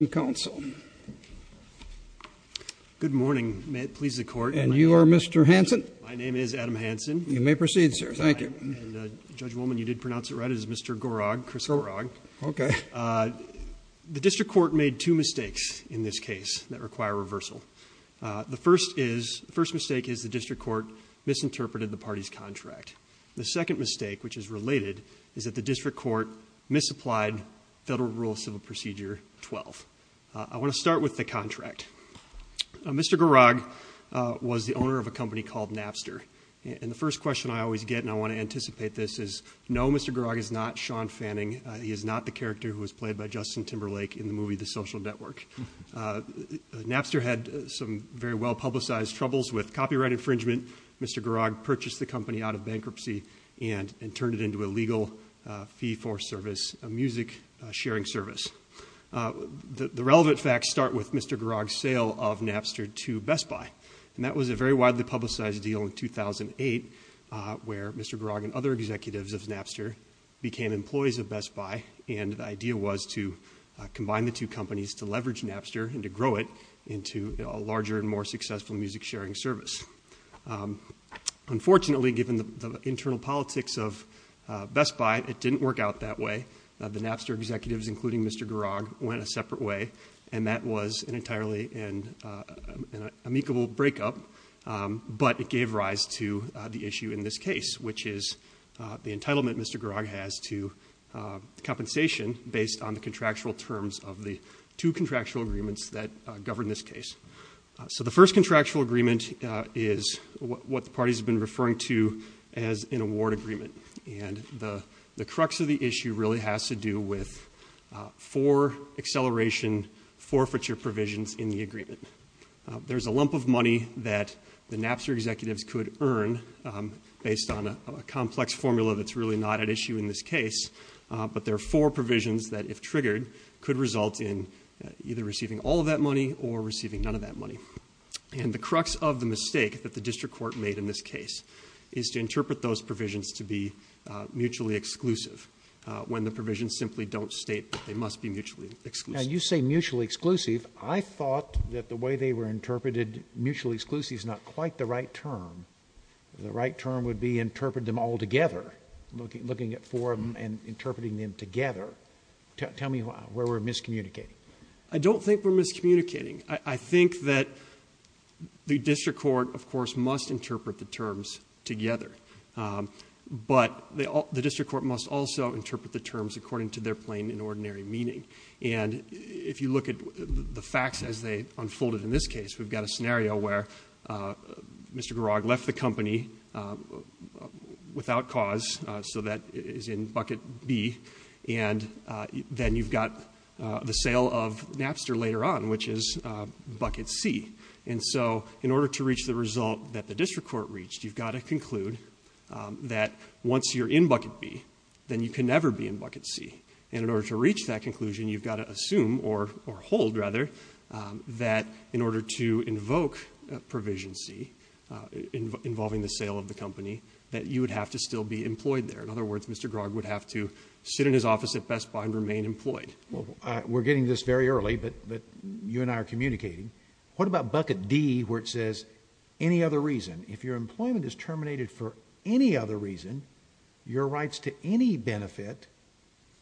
Good morning. May it please the Court. And you are Mr. Hanson? My name is Adam Hanson. You may proceed, sir. Thank you. And, Judge Woolman, you did pronounce it right. It is Mr. Gorog, Chris Gorog. Okay. The District Court made two mistakes in this case that require reversal. The first is, the first mistake is the District Court misinterpreted the party's contract. The second mistake, which is related, is that the District Court misapplied Federal Rule of Civil Procedure 12. I want to start with the contract. Mr. Gorog was the owner of a company called Napster. And the first question I always get, and I want to anticipate this, is, no, Mr. Gorog is not Sean Fanning. He is not the character who was played by Justin Timberlake in the movie The Social Network. Napster had some very well-publicized troubles with copyright infringement. Mr. Gorog purchased the company out of bankruptcy and turned it into a legal fee-for-service, a music-sharing service. The relevant facts start with Mr. Gorog's sale of Napster to Best Buy. And that was a very widely publicized deal in 2008, where Mr. Gorog and other executives of Napster became employees of Best Buy. And the idea was to combine the two companies to leverage Napster and to grow it into a larger and more successful music-sharing service. Unfortunately, given the internal politics of Best Buy, it didn't work out that way. The Napster executives, including Mr. Gorog, went a separate way. And that was an entirely amicable breakup. But it gave rise to the issue in this case, which is the entitlement Mr. Gorog has to compensation based on the contractual terms of the two contractual agreements that govern this case. So the first contractual agreement is what the parties have been referring to as an award agreement. And the crux of the issue really has to do with four acceleration forfeiture provisions in the agreement. There's a lump of money that the Napster executives could earn based on a complex formula that's really not at issue in this case. But there are four provisions that, if triggered, could result in either receiving all of that money or receiving none of that money. And the crux of the mistake that the district court made in this case is to interpret those provisions to be mutually exclusive, when the provisions simply don't state that they must be mutually exclusive. Now, you say mutually exclusive. I thought that the way they were interpreted, mutually exclusive, is not quite the right term. The right term would be interpret them all together, looking at four of them and interpreting them together. Tell me where we're miscommunicating. I don't think we're miscommunicating. I think that the district court, of course, must interpret the terms together. But the district court must also interpret the terms according to their plain and ordinary meaning. And if you look at the facts as they unfolded in this case, we've got a scenario where Mr. Garag left the company without cause, so that is in bucket B, and then you've got the sale of Napster later on, which is bucket C. And so, in order to reach the result that the district court reached, you've got to conclude that once you're in bucket B, then you can never be in bucket C. And in order to reach that conclusion, you've got to assume, or hold, rather, that in order to invoke provision C involving the sale of the company, that you would have to still be employed there. In other words, Mr. Garag would have to sit in his office at Best Buy and remain employed. We're getting to this very early, but you and I are communicating. What about bucket D, where it says, any other reason? If your employment is terminated for any other reason, your rights to any benefit,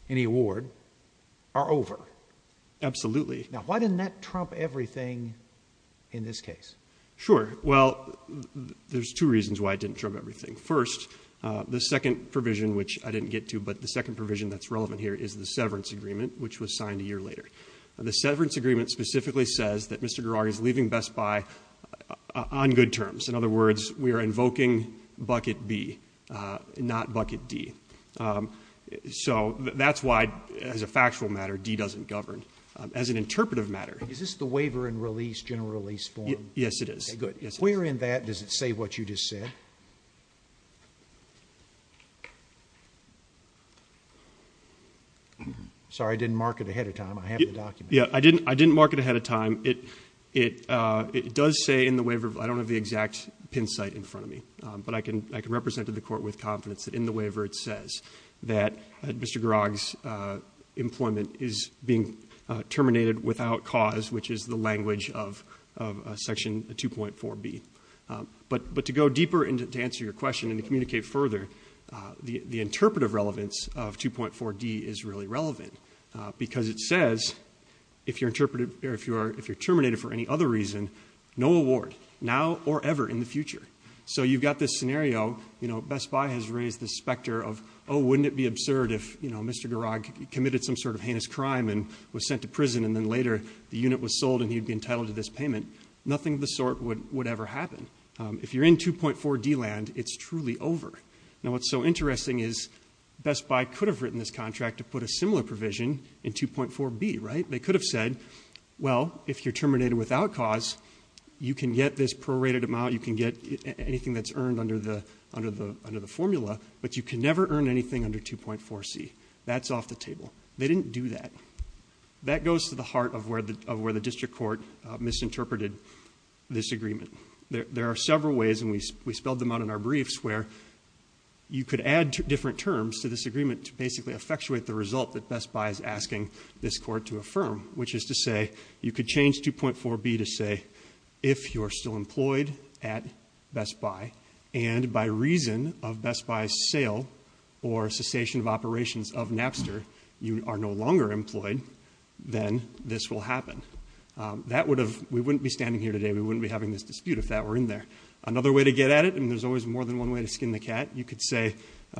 any award, are over. Absolutely. Now, why didn't that trump everything in this case? Sure. Well, there's two reasons why it didn't trump everything. First, the second provision, which I didn't get to, but the second provision that's relevant here is the severance agreement, which was signed a year later. The severance agreement specifically says that Mr. Garag is leaving Best Buy on good terms. In other words, we are invoking bucket B, not bucket D. So, that's why, as a factual matter, D doesn't govern. As an interpretive matter Is this the waiver and release general release form? Yes, it is. Okay, good. Where in that does it say what you just said? Sorry, I didn't mark it ahead of time. I have the document. I didn't mark it ahead of time. It does say in the waiver, I don't have the exact pin site in front of me, but I can represent to the court with confidence that in the waiver it says that Mr. Garag's employment is being terminated without cause, which is the language of section 2.4B. But to go deeper and to answer your question and to communicate further, the interpretive relevance of 2.4D is really relevant because it says if you're terminated for any other reason, no award, now or ever in the future. So, you've got this scenario, you know, Best Buy has raised this specter of, oh, wouldn't it be absurd if, you know, Mr. Garag committed some sort of heinous crime and was sent to prison and then later the unit was sold and he'd be entitled to this payment. Nothing of the sort would ever happen. If you're in 2.4D land, it's truly over. Now, what's so interesting is Best Buy could have written this contract to put a similar provision in 2.4B, right? They could have said, well, if you're terminated without cause, you can get this prorated amount, you can get anything that's earned under the formula, but you can never earn anything under 2.4C. That's off the table. They didn't do that. That goes to the heart of where the district court misinterpreted this agreement. There are several ways, and we spelled them out in our briefs, where you could add different terms to this agreement to basically effectuate the result that Best Buy is asking this court to affirm, which is to say you could change 2.4B to say if you are still employed at Best Buy and by reason of Best Buy's sale or cessation of operations of Napster, you are no longer employed, then this will happen. That would have, we wouldn't be standing here today, we wouldn't be having this dispute if that were in there. Another way to get at it, and there's always more than one way to skin the cat, you could say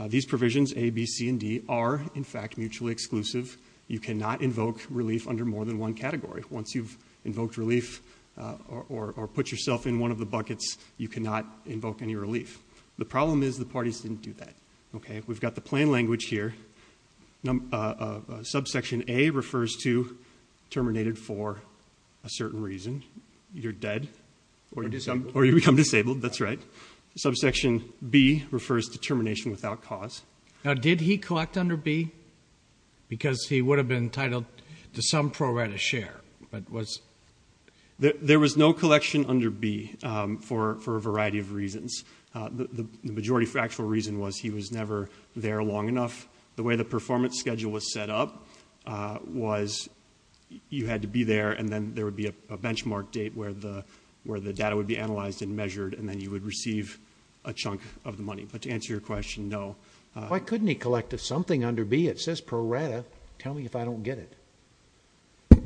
these provisions, A, B, C, and D, are in fact mutually exclusive. You cannot invoke relief under more than one category. Once you've invoked relief or put yourself in one of the buckets, you cannot invoke any relief. The problem is the parties didn't do that. We've got the plan language here. Subsection A refers to terminated for a certain reason, either dead or you become disabled, that's right. Subsection B refers to termination without cause. Now, did he collect under B? Because he would have been entitled to some pro rata share. There was no collection under B for a variety of reasons. The majority factual reason was he was never there long enough. The way the performance schedule was set up was you had to be there and then there would be a benchmark date where the data would be analyzed and Why couldn't he collect a something under B? It says pro rata. Tell me if I don't get it.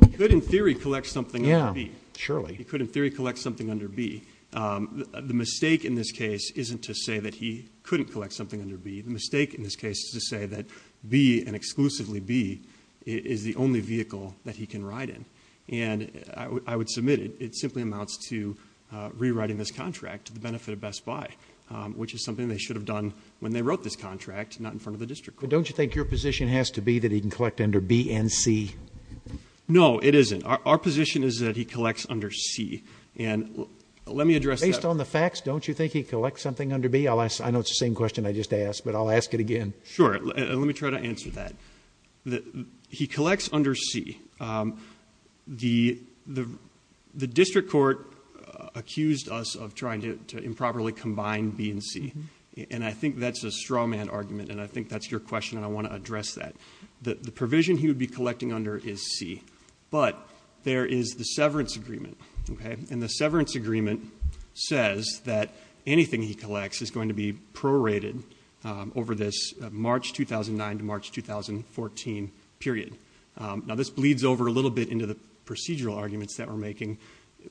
He could, in theory, collect something under B. Yeah, surely. He could, in theory, collect something under B. The mistake in this case isn't to say that he couldn't collect something under B. The mistake in this case is to say that B and exclusively B is the only vehicle that he can ride in. And I would submit it simply amounts to rewriting this contract to the benefit of Best Buy, which is something they wrote this contract, not in front of the district court. But don't you think your position has to be that he can collect under B and C? No, it isn't. Our position is that he collects under C. And let me address that. Based on the facts, don't you think he collects something under B? I know it's the same question I just asked, but I'll ask it again. Sure. Let me try to answer that. He collects under C. The district court accused us of trying to improperly combine B and C. And I think that's a strawman argument, and I think that's your question, and I want to address that. The provision he would be collecting under is C. But there is the severance agreement. And the severance agreement says that anything he collects is going to be prorated over this March 2009 to March 2014 period. Now, this bleeds over a little bit into the procedural arguments that we're making.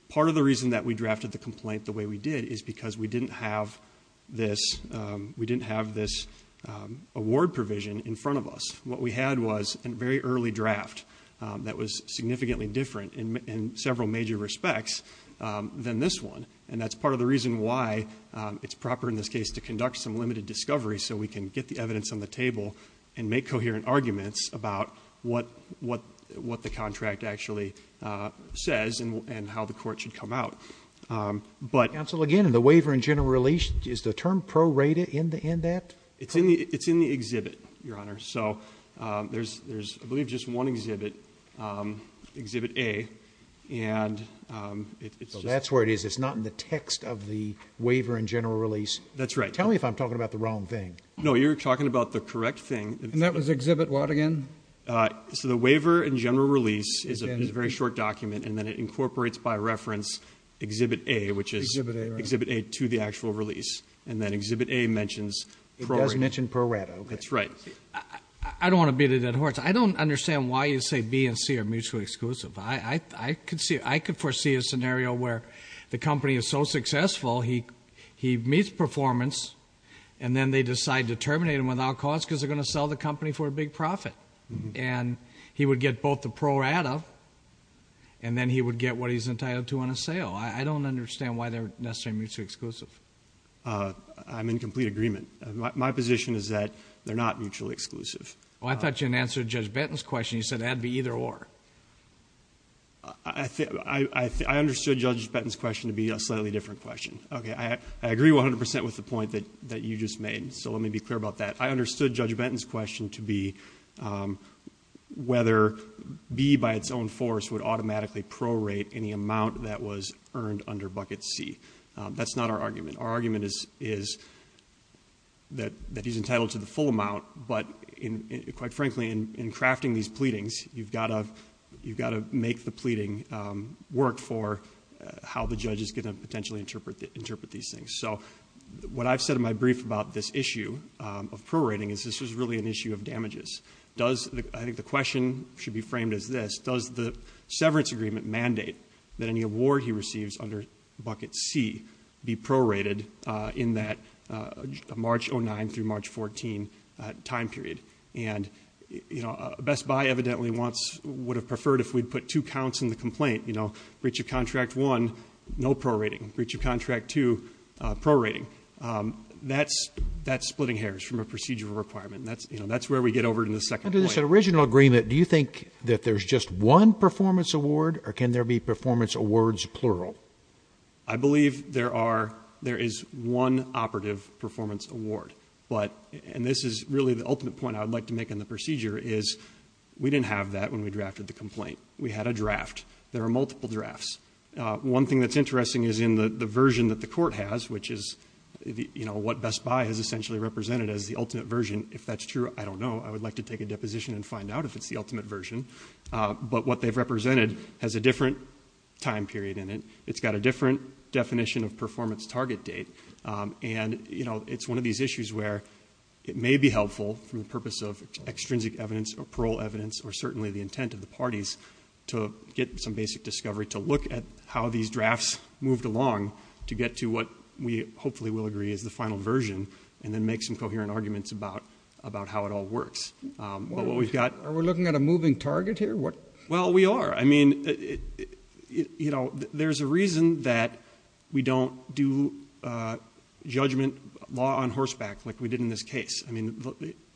Part of the reason that we drafted the complaint the way we did is because we didn't have this award provision in front of us. What we had was a very early draft that was significantly different in several major respects than this one. And that's part of the reason why it's proper in this case to conduct some limited discovery so we can get the evidence on the table and make coherent arguments about what the contract actually says and how the court should come out. But... Counsel, again, in the waiver and general release, is the term prorated in that? It's in the exhibit, Your Honor. So there's, I believe, just one exhibit, Exhibit A, and it's... So that's where it is. It's not in the text of the waiver and general release. That's right. Tell me if I'm talking about the wrong thing. No, you're talking about the correct thing. And that was Exhibit what again? So the waiver and general release is a very short document, and then it incorporates by reference Exhibit A, which is Exhibit A to the actual release. And then Exhibit A mentions... It does mention prorated. That's right. I don't want to beat it at a horse. I don't understand why you say B and C are mutually exclusive. I could foresee a scenario where the company is so successful, he meets performance, and then they decide to terminate him without cause because they're going to sell the company for a big profit. And he would get both the prorata, and then he would get what he's entitled to on a sale. I don't understand why they're necessarily mutually exclusive. I'm in complete agreement. My position is that they're not mutually exclusive. Well, I thought you had answered Judge Benton's question. You said it had to be either or. I understood Judge Benton's question to be a slightly different question. Okay. I agree 100% with the point that you just made, so let me be clear about that. I understood Judge Benton's question to be whether B, by its own force, would automatically prorate any amount that was earned under Bucket C. That's not our argument. Our argument is that he's entitled to the full amount, but quite frankly, in crafting these pleadings, you've got to make the pleading work for how the judge is going to potentially interpret these things. So, what I've said in my brief about this issue of prorating is this is really an issue of damages. I think the question should be framed as this. Does the severance agreement mandate that any award he receives under Bucket C be prorated in that March 09 through March 14 time period? And Best Buy, evidently, would have preferred if we'd put two counts in the prorating. That's splitting hairs from a procedural requirement, and that's where we get over to the second point. Under this original agreement, do you think that there's just one performance award, or can there be performance awards plural? I believe there is one operative performance award, and this is really the ultimate point I would like to make on the procedure is we didn't have that when we drafted the complaint. We had a draft. There are multiple drafts. One thing that's interesting is in the version that the court has, which is what Best Buy has essentially represented as the ultimate version, if that's true, I don't know. I would like to take a deposition and find out if it's the ultimate version, but what they've represented has a different time period in it. It's got a different definition of performance target date, and it's one of these issues where it may be helpful for the purpose of extrinsic evidence or parole evidence or certainly the intent of the parties to get some basic discovery to look at how these drafts moved along to get to what we hopefully will agree is the final version and then make some coherent arguments about how it all works. Are we looking at a moving target here? Well, we are. I mean, there's a reason that we don't do judgment law on horseback like we did in this case. I mean,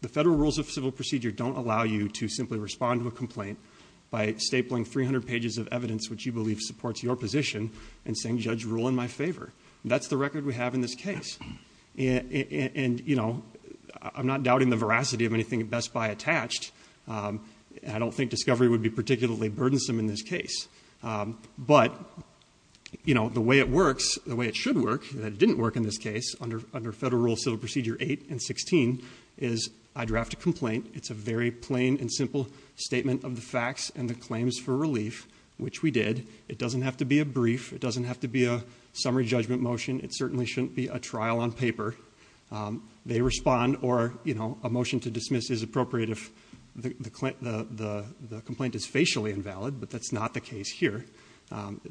the federal rules of civil procedure don't allow you to simply respond to a complaint by stapling 300 pages of evidence which you believe supports your rule in my favor. That's the record we have in this case. And, you know, I'm not doubting the veracity of anything Best Buy attached. I don't think discovery would be particularly burdensome in this case. But, you know, the way it works, the way it should work, that it didn't work in this case under federal rules of civil procedure 8 and 16 is I draft a complaint. It's a very plain and simple statement of the facts and the claims for summary judgment motion. It certainly shouldn't be a trial on paper. They respond or, you know, a motion to dismiss is appropriate if the complaint is facially invalid, but that's not the case here.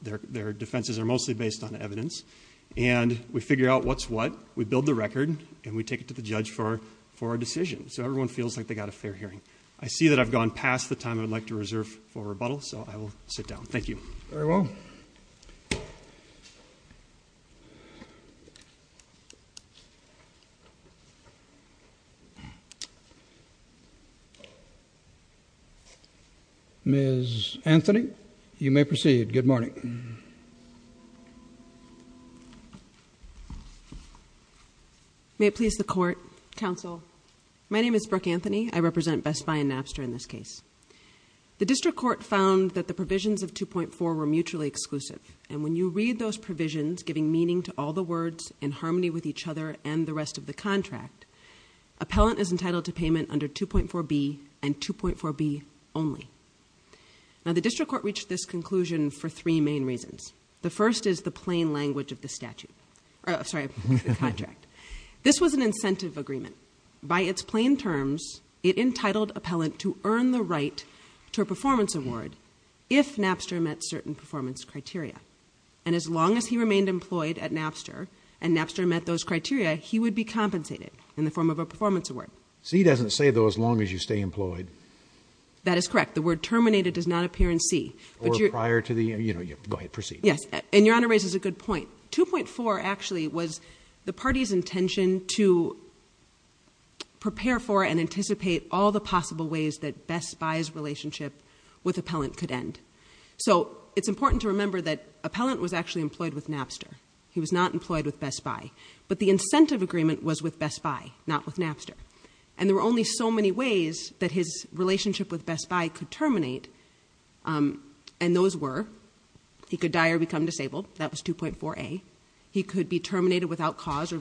Their defenses are mostly based on evidence. And we figure out what's what, we build the record, and we take it to the judge for our decision. So everyone feels like they got a fair hearing. I see that I've gone past the time I'd like to reserve for rebuttal, so I will sit down. Thank you. Very well. Ms. Anthony, you may proceed. Good morning. May it please the Court. Counsel, my name is Brooke Anthony. I represent Best Buy and exclusive. And when you read those provisions, giving meaning to all the words in harmony with each other and the rest of the contract, appellant is entitled to payment under 2.4 B and 2.4 B only. Now, the district court reached this conclusion for three main reasons. The first is the plain language of the statute. Sorry, the contract. This was an incentive agreement. By its plain terms, it entitled appellant to earn the right to a performance award if Napster met certain performance criteria. And as long as he remained employed at Napster and Napster met those criteria, he would be compensated in the form of a performance award. C doesn't say, though, as long as you stay employed. That is correct. The word terminated does not appear in C. Or prior to the, you know, go ahead, proceed. Yes. And your Honor raises a good point. 2.4 actually was the party's intention to prepare for and anticipate all the possible ways that Best Buy's relationship with appellant could end. So it's important to remember that appellant was actually employed with Napster. He was not employed with Best Buy. But the incentive agreement was with Best Buy, not with Napster. And there were only so many ways that his relationship with Best Buy could terminate. And those were he could die or become disabled. That was 2.4 A. He could be terminated without cause or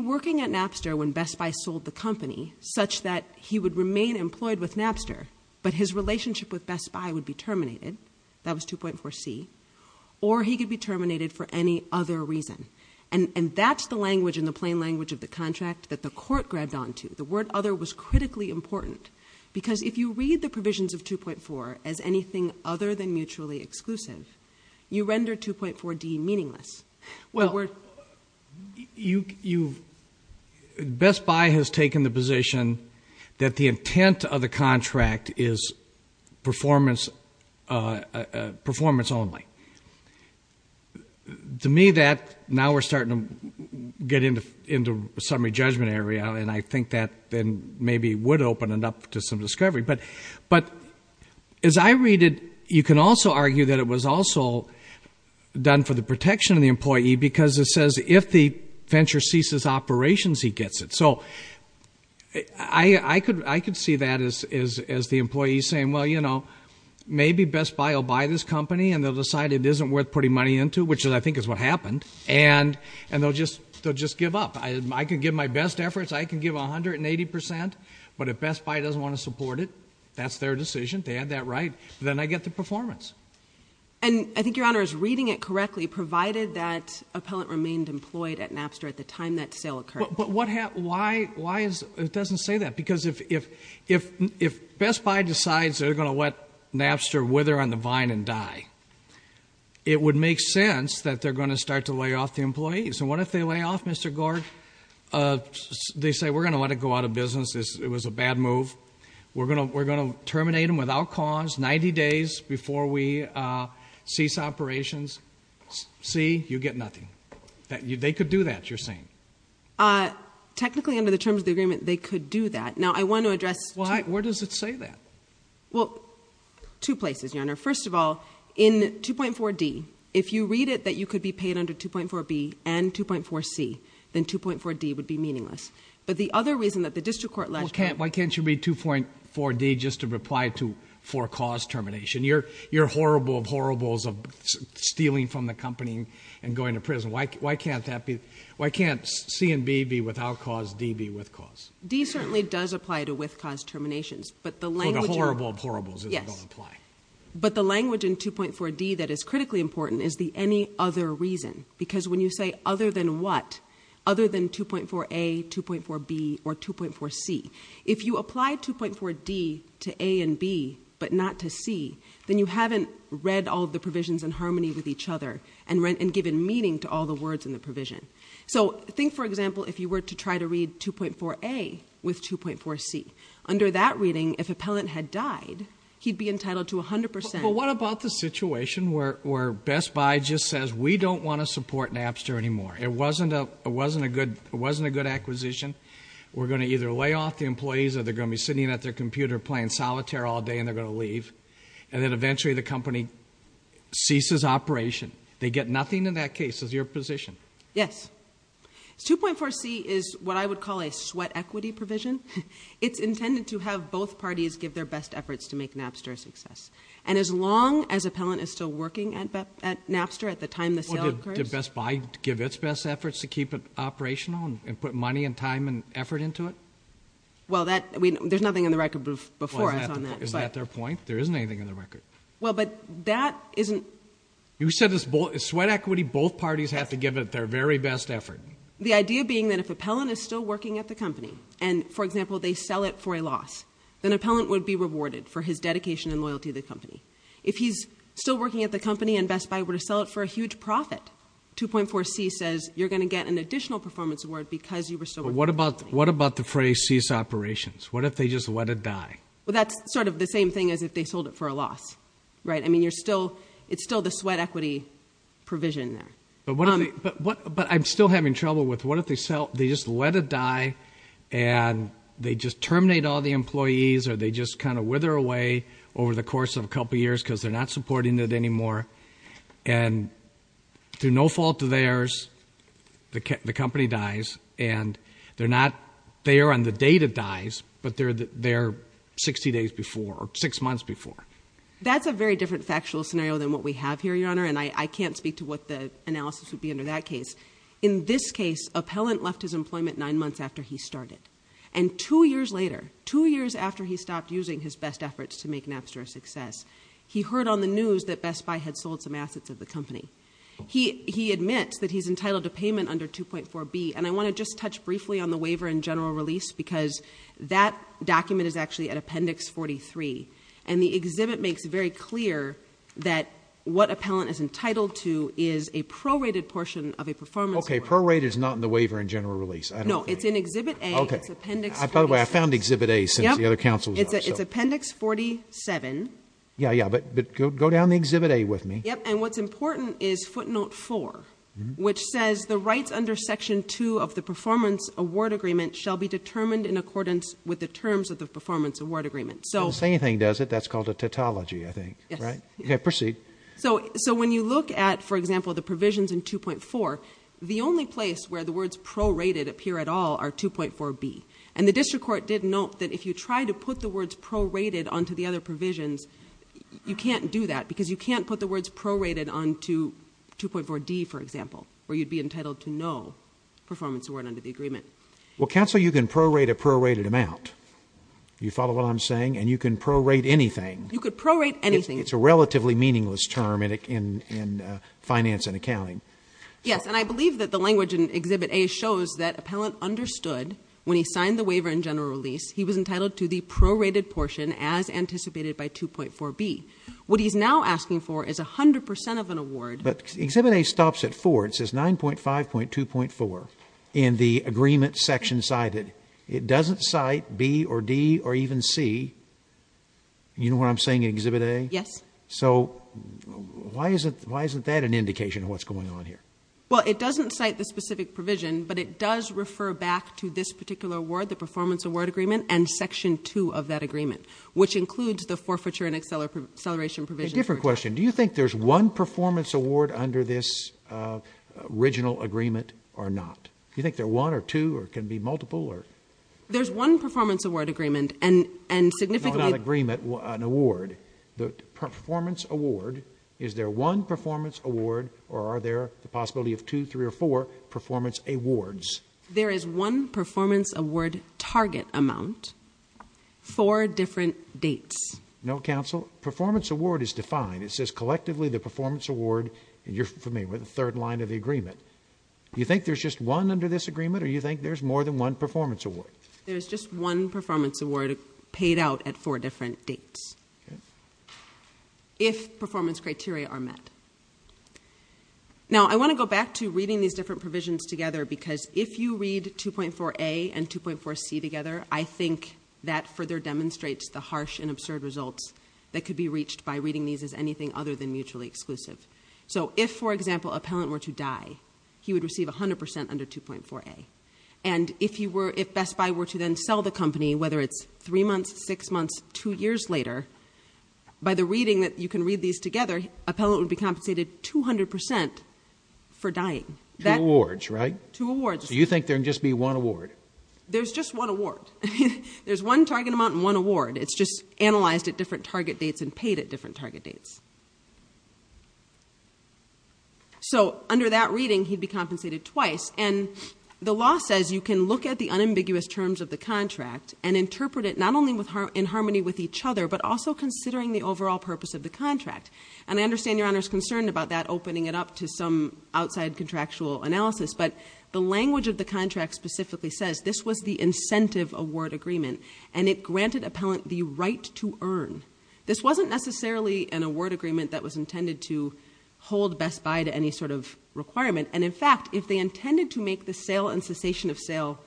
working at Napster when Best Buy sold the company such that he would remain employed with Napster, but his relationship with Best Buy would be terminated. That was 2.4 C. Or he could be terminated for any other reason. And that's the language and the plain language of the contract that the court grabbed onto. The word other was critically important. Because if you read the provisions of 2.4 as anything other than mutually exclusive, you render 2.4 D meaningless. Well, Best Buy has taken the position that the intent of the contract is performance only. To me that, now we're starting to get into summary judgment area, and I think that then maybe would open it up to some discovery. But as I read it, you can also argue that it was also done for the protection of the employee because it says if the venture ceases operations, he gets it. So I could see that as the employee saying, well, you know, maybe Best Buy will buy this company and they'll decide it isn't worth putting money into, which I think is what happened. And they'll just give up. I can give my best efforts. I can give 180%. But if Best Buy doesn't want to support it, that's their decision. They had that right. Then I get the performance. And I think Your Honor is reading it correctly, provided that appellant remained employed at Napster at the time that sale occurred. But what happened? Why is it doesn't say that? Because if Best Buy decides they're going to let Napster wither on the vine and die, it would make sense that they're going to start to lay off the employees. And what if they lay off, Mr. Gord? They say, we're going to let it go out of business. It was a bad move. We're going to terminate them without cause 90 days before we cease operations. See? You get nothing. They could do that, you're saying. Technically, under the terms of the agreement, they could do that. Now, I want to address Why? Where does it say that? Well, two places, Your Honor. First of all, in 2.4D, if you read it that you could be paid under 2.4B and 2.4C, then 2.4D would be meaningless. But the other reason that the district court last time Why can't you read 2.4D just to reply to for cause termination? You're horrible of horribles of stealing from the company and going to prison. Why can't that be Why can't C and B be without cause, D be with cause? D certainly does apply to with cause terminations, but the language For the horrible of horribles is going to apply But the language in 2.4D that is critically important is the any other reason, because when you say other than what, other than 2.4A, 2.4B, or 2.4C, if you apply 2.4D to A and B, but not to C, then you haven't read all the provisions in harmony with each other and given meaning to all the words in the provision. So think, for example, if you were to try to read 2.4A with 2.4C. Under that reading, if appellant had died, he'd be entitled to 100%. Well, what about the situation where Best Buy just says, we don't want to support Napster anymore. It wasn't a good acquisition. We're going to either lay off the employees or they're going to be sitting at their computer playing solitaire all day and they're going to leave. And then eventually the company ceases operation. They get nothing in that case. Is your position. Yes. 2.4C is what I would call a sweat equity provision. It's intended to have both parties give their best efforts to make Napster a success. And as long as appellant is still working at Napster at the time the sale occurs. Well, did Best Buy give its best efforts to keep it operational and put money and time and effort into it? Well, there's nothing in the record before us on that. Is that their point? There isn't anything in the record. Well, but that isn't. You said it's sweat equity. Both parties have to give it their very best effort. The idea being that if appellant is still working at the company and, for example, they sell it for a loss, then appellant would be rewarded for his dedication and loyalty to the company. If he's still working at the company and Best Buy were to sell it for a huge profit, 2.4C says you're going to get an additional performance award because you were still working at the company. What about the phrase cease operations? What if they just let it die? Well, that's sort of the same thing as if they sold it for a loss. I mean, it's still the sweat equity provision there. But I'm still having trouble with what if they just let it die and they just terminate all the employees or they just kind of wither away over the course of a couple years because they're not supporting it anymore and through no fault of theirs, the company dies and they're not there on the date it dies, but they're there 60 days before or six months before. That's a very different factual scenario than what we have here, Your Honor, and I can't speak to what the analysis would be under that case. In this case, Appellant left his employment nine months after he started, and two years later, two years after he stopped using his best efforts to make Napster a success, he heard on the news that Best Buy had sold some assets of the company. He admits that he's entitled to payment under 2.4B, and I want to just touch briefly on the waiver and general release because that document is actually at Appendix 43, and the exhibit makes it very clear that what Appellant is entitled to is a prorated portion of a performance award. Okay, prorate is not in the waiver and general release. No, it's in Exhibit A. Okay, by the way, I found Exhibit A since the other counsel is up. It's Appendix 47. Yeah, yeah, but go down to Exhibit A with me. Yep, and what's important is Footnote 4, which says the rights under Section 2 of the Performance Award Agreement shall be determined in accordance with the terms of the Performance Award Agreement. The same thing, does it? That's called a tautology, I think, right? Yes. Okay, proceed. So when you look at, for example, the provisions in 2.4, the only place where the words prorated appear at all are 2.4B, and the district court did note that if you try to put the words prorated onto the other provisions, you can't do that because you can't put the words prorated onto 2.4D, for example, where you'd be entitled to no performance award under the agreement. Well, counsel, you can prorate a prorated amount. You follow what I'm saying? And you can prorate anything. You could prorate anything. It's a relatively meaningless term in finance and accounting. Yes, and I believe that the language in Exhibit A shows that appellant understood when he signed the waiver and general release he was entitled to the prorated portion as anticipated by 2.4B. What he's now asking for is 100% of an award. But Exhibit A stops at 4. It says 9.5.2.4 in the agreement section cited. It doesn't cite B or D or even C. You know what I'm saying in Exhibit A? Yes. So why isn't that an indication of what's going on here? Well, it doesn't cite the specific provision, but it does refer back to this particular award, the performance award agreement, and Section 2 of that agreement, which includes the forfeiture and acceleration provisions. A different question. Do you think there's one performance award under this original agreement or not? Do you think there are one or two or it can be multiple? There's one performance award agreement and significantly... an award. The performance award, is there one performance award or are there the possibility of two, three, or four performance awards? There is one performance award target amount, four different dates. No, counsel. Performance award is defined. It says collectively the performance award, and you're familiar with the third line of the agreement. Do you think there's just one under this agreement or do you think there's more than one performance award? There's just one performance award paid out at four different dates if performance criteria are met. Now, I want to go back to reading these different provisions together because if you read 2.4a and 2.4c together, I think that further demonstrates the harsh and absurd results that could be reached by reading these as anything other than mutually exclusive. So if, for example, a palant were to die, he would receive 100% under 2.4a. And if Best Buy were to then sell the company, whether it's three months, six months, two years later, by the reading that you can read these together, a palant would be compensated 200% for dying. Two awards, right? Two awards. So you think there can just be one award? There's just one award. There's one target amount and one award. It's just analyzed at different target dates and paid at different target dates. So under that reading, he'd be compensated twice. And the law says you can look at the unambiguous terms of the contract and interpret it not only in harmony with each other but also considering the overall purpose of the contract. And I understand Your Honor's concerned about that, opening it up to some outside contractual analysis, but the language of the contract specifically says this was the incentive award agreement and it granted a palant the right to earn. This wasn't necessarily an award agreement that was intended to hold Best Buy to any sort of requirement. And, in fact, if they intended to make the sale and cessation of sale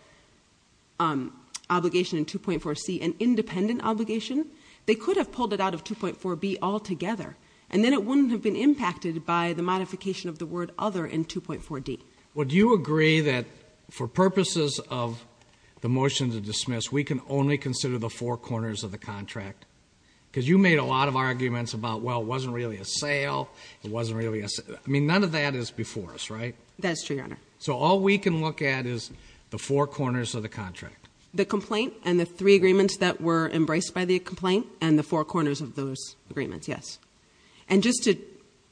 obligation in 2.4C an independent obligation, they could have pulled it out of 2.4B altogether, and then it wouldn't have been impacted by the modification of the word other in 2.4D. Would you agree that for purposes of the motion to dismiss, we can only consider the four corners of the contract? Because you made a lot of arguments about, well, it wasn't really a sale. I mean, none of that is before us, right? That is true, Your Honor. So all we can look at is the four corners of the contract. The complaint and the three agreements that were embraced by the complaint and the four corners of those agreements, yes. And just to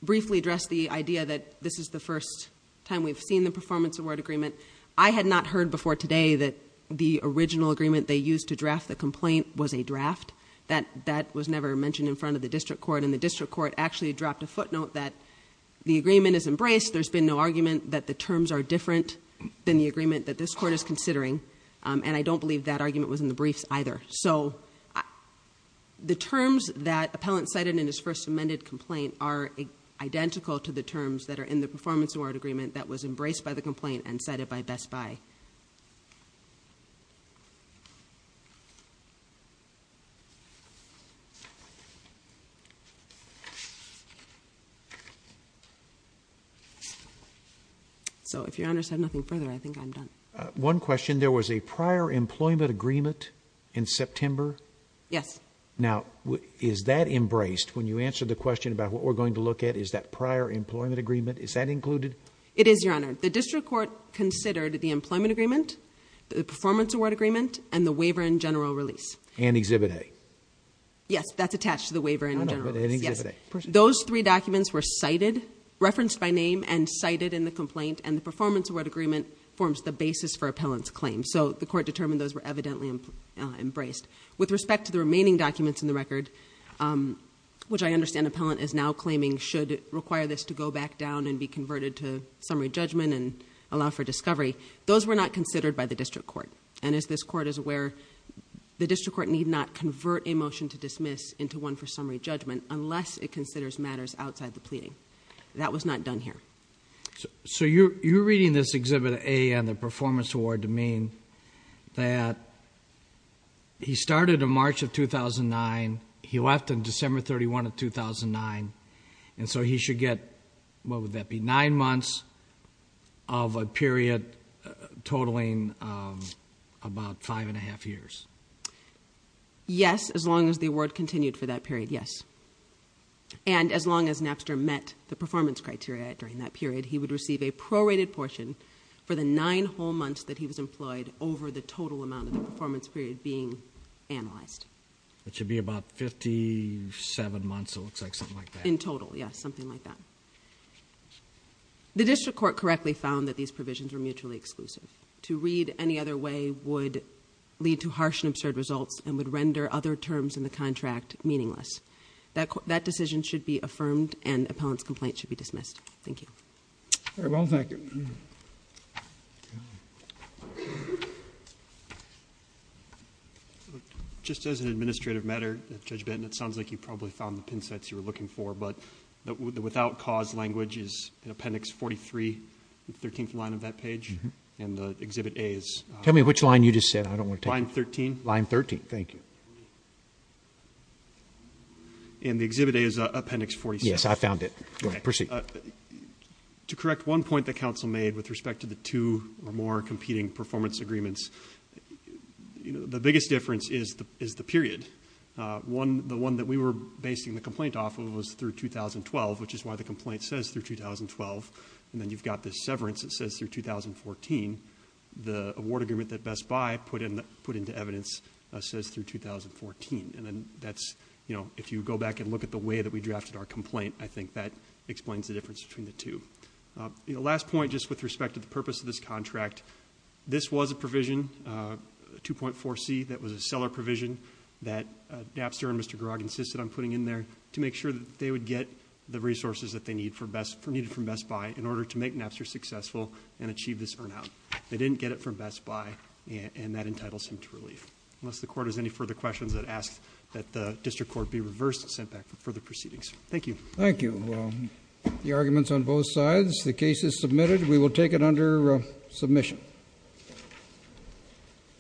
briefly address the idea that this is the first time we've seen the performance award agreement, I had not heard before today that the original agreement they used to draft the complaint was a draft. That was never mentioned in front of the district court, and the district court actually dropped a footnote that the agreement is embraced. There's been no argument that the terms are different than the agreement that this court is considering, and I don't believe that argument was in the briefs either. So the terms that appellant cited in his first amended complaint are identical to the terms that are in the performance award agreement that was embraced by the complaint and cited by Best Buy. So if Your Honor said nothing further, I think I'm done. One question. There was a prior employment agreement in September? Yes. Now, is that embraced? When you answer the question about what we're going to look at, is that prior employment agreement, is that included? It is, Your Honor. The district court considered the employment agreement, the performance award agreement, and the waiver and general release. And Exhibit A. Yes, that's attached to the waiver and general release. Exhibit A and Exhibit A. Those three documents were cited, referenced by name, and cited in the complaint, and the performance award agreement forms the basis for appellant's claim. So the court determined those were evidently embraced. With respect to the remaining documents in the record, which I understand appellant is now claiming should require this to go back down and be converted to summary judgment and allow for discovery, those were not considered by the district court. And as this court is aware, the district court need not convert a motion to dismiss into one for summary judgment unless it considers matters outside the pleading. That was not done here. So you're reading this Exhibit A and the performance award to mean that he started in March of 2009, he left in December 31 of 2009, and so he should get, what would that be, nine months of a period totaling about five and a half years? Yes, as long as the award continued for that period, yes. And as long as Napster met the performance criteria during that period, he would receive a prorated portion for the nine whole months that he was employed over the total amount of the performance period being analyzed. That should be about 57 months, it looks like, something like that. In total, yes, something like that. The district court correctly found that these provisions were mutually exclusive. To read any other way would lead to harsh and absurd results and would render other terms in the contract meaningless. That decision should be affirmed and Appellant's complaint should be dismissed. Thank you. Very well, thank you. Just as an administrative matter, Judge Benton, it sounds like you probably found the pin sets you were looking for, but the without cause language is Appendix 43, the 13th line of that page, and the Exhibit A is? Tell me which line you just said. I don't want to take it. Line 13. Line 13, thank you. And the Exhibit A is Appendix 47. Yes, I found it. Go ahead, proceed. To correct one point that counsel made with respect to the two or more competing performance agreements, the biggest difference is the period. The one that we were basing the complaint off of was through 2012, which is why the complaint says through 2012. And then you've got this severance that says through 2014. The award agreement that Best Buy put into evidence says through 2014. And then if you go back and look at the way that we drafted our complaint, I think that explains the difference between the two. The last point, just with respect to the purpose of this contract, this was a provision, 2.4C, that was a seller provision that Napster and Mr. Garag insisted on putting in there to make sure that they would get the resources that they needed from Best Buy in order to make Napster successful and achieve this earn out. They didn't get it from Best Buy, and that entitles him to relief. Unless the Court has any further questions, I'd ask that the District Court be reversed and sent back for further proceedings. Thank you. Thank you. The argument's on both sides. The case is submitted. We will take it under submission.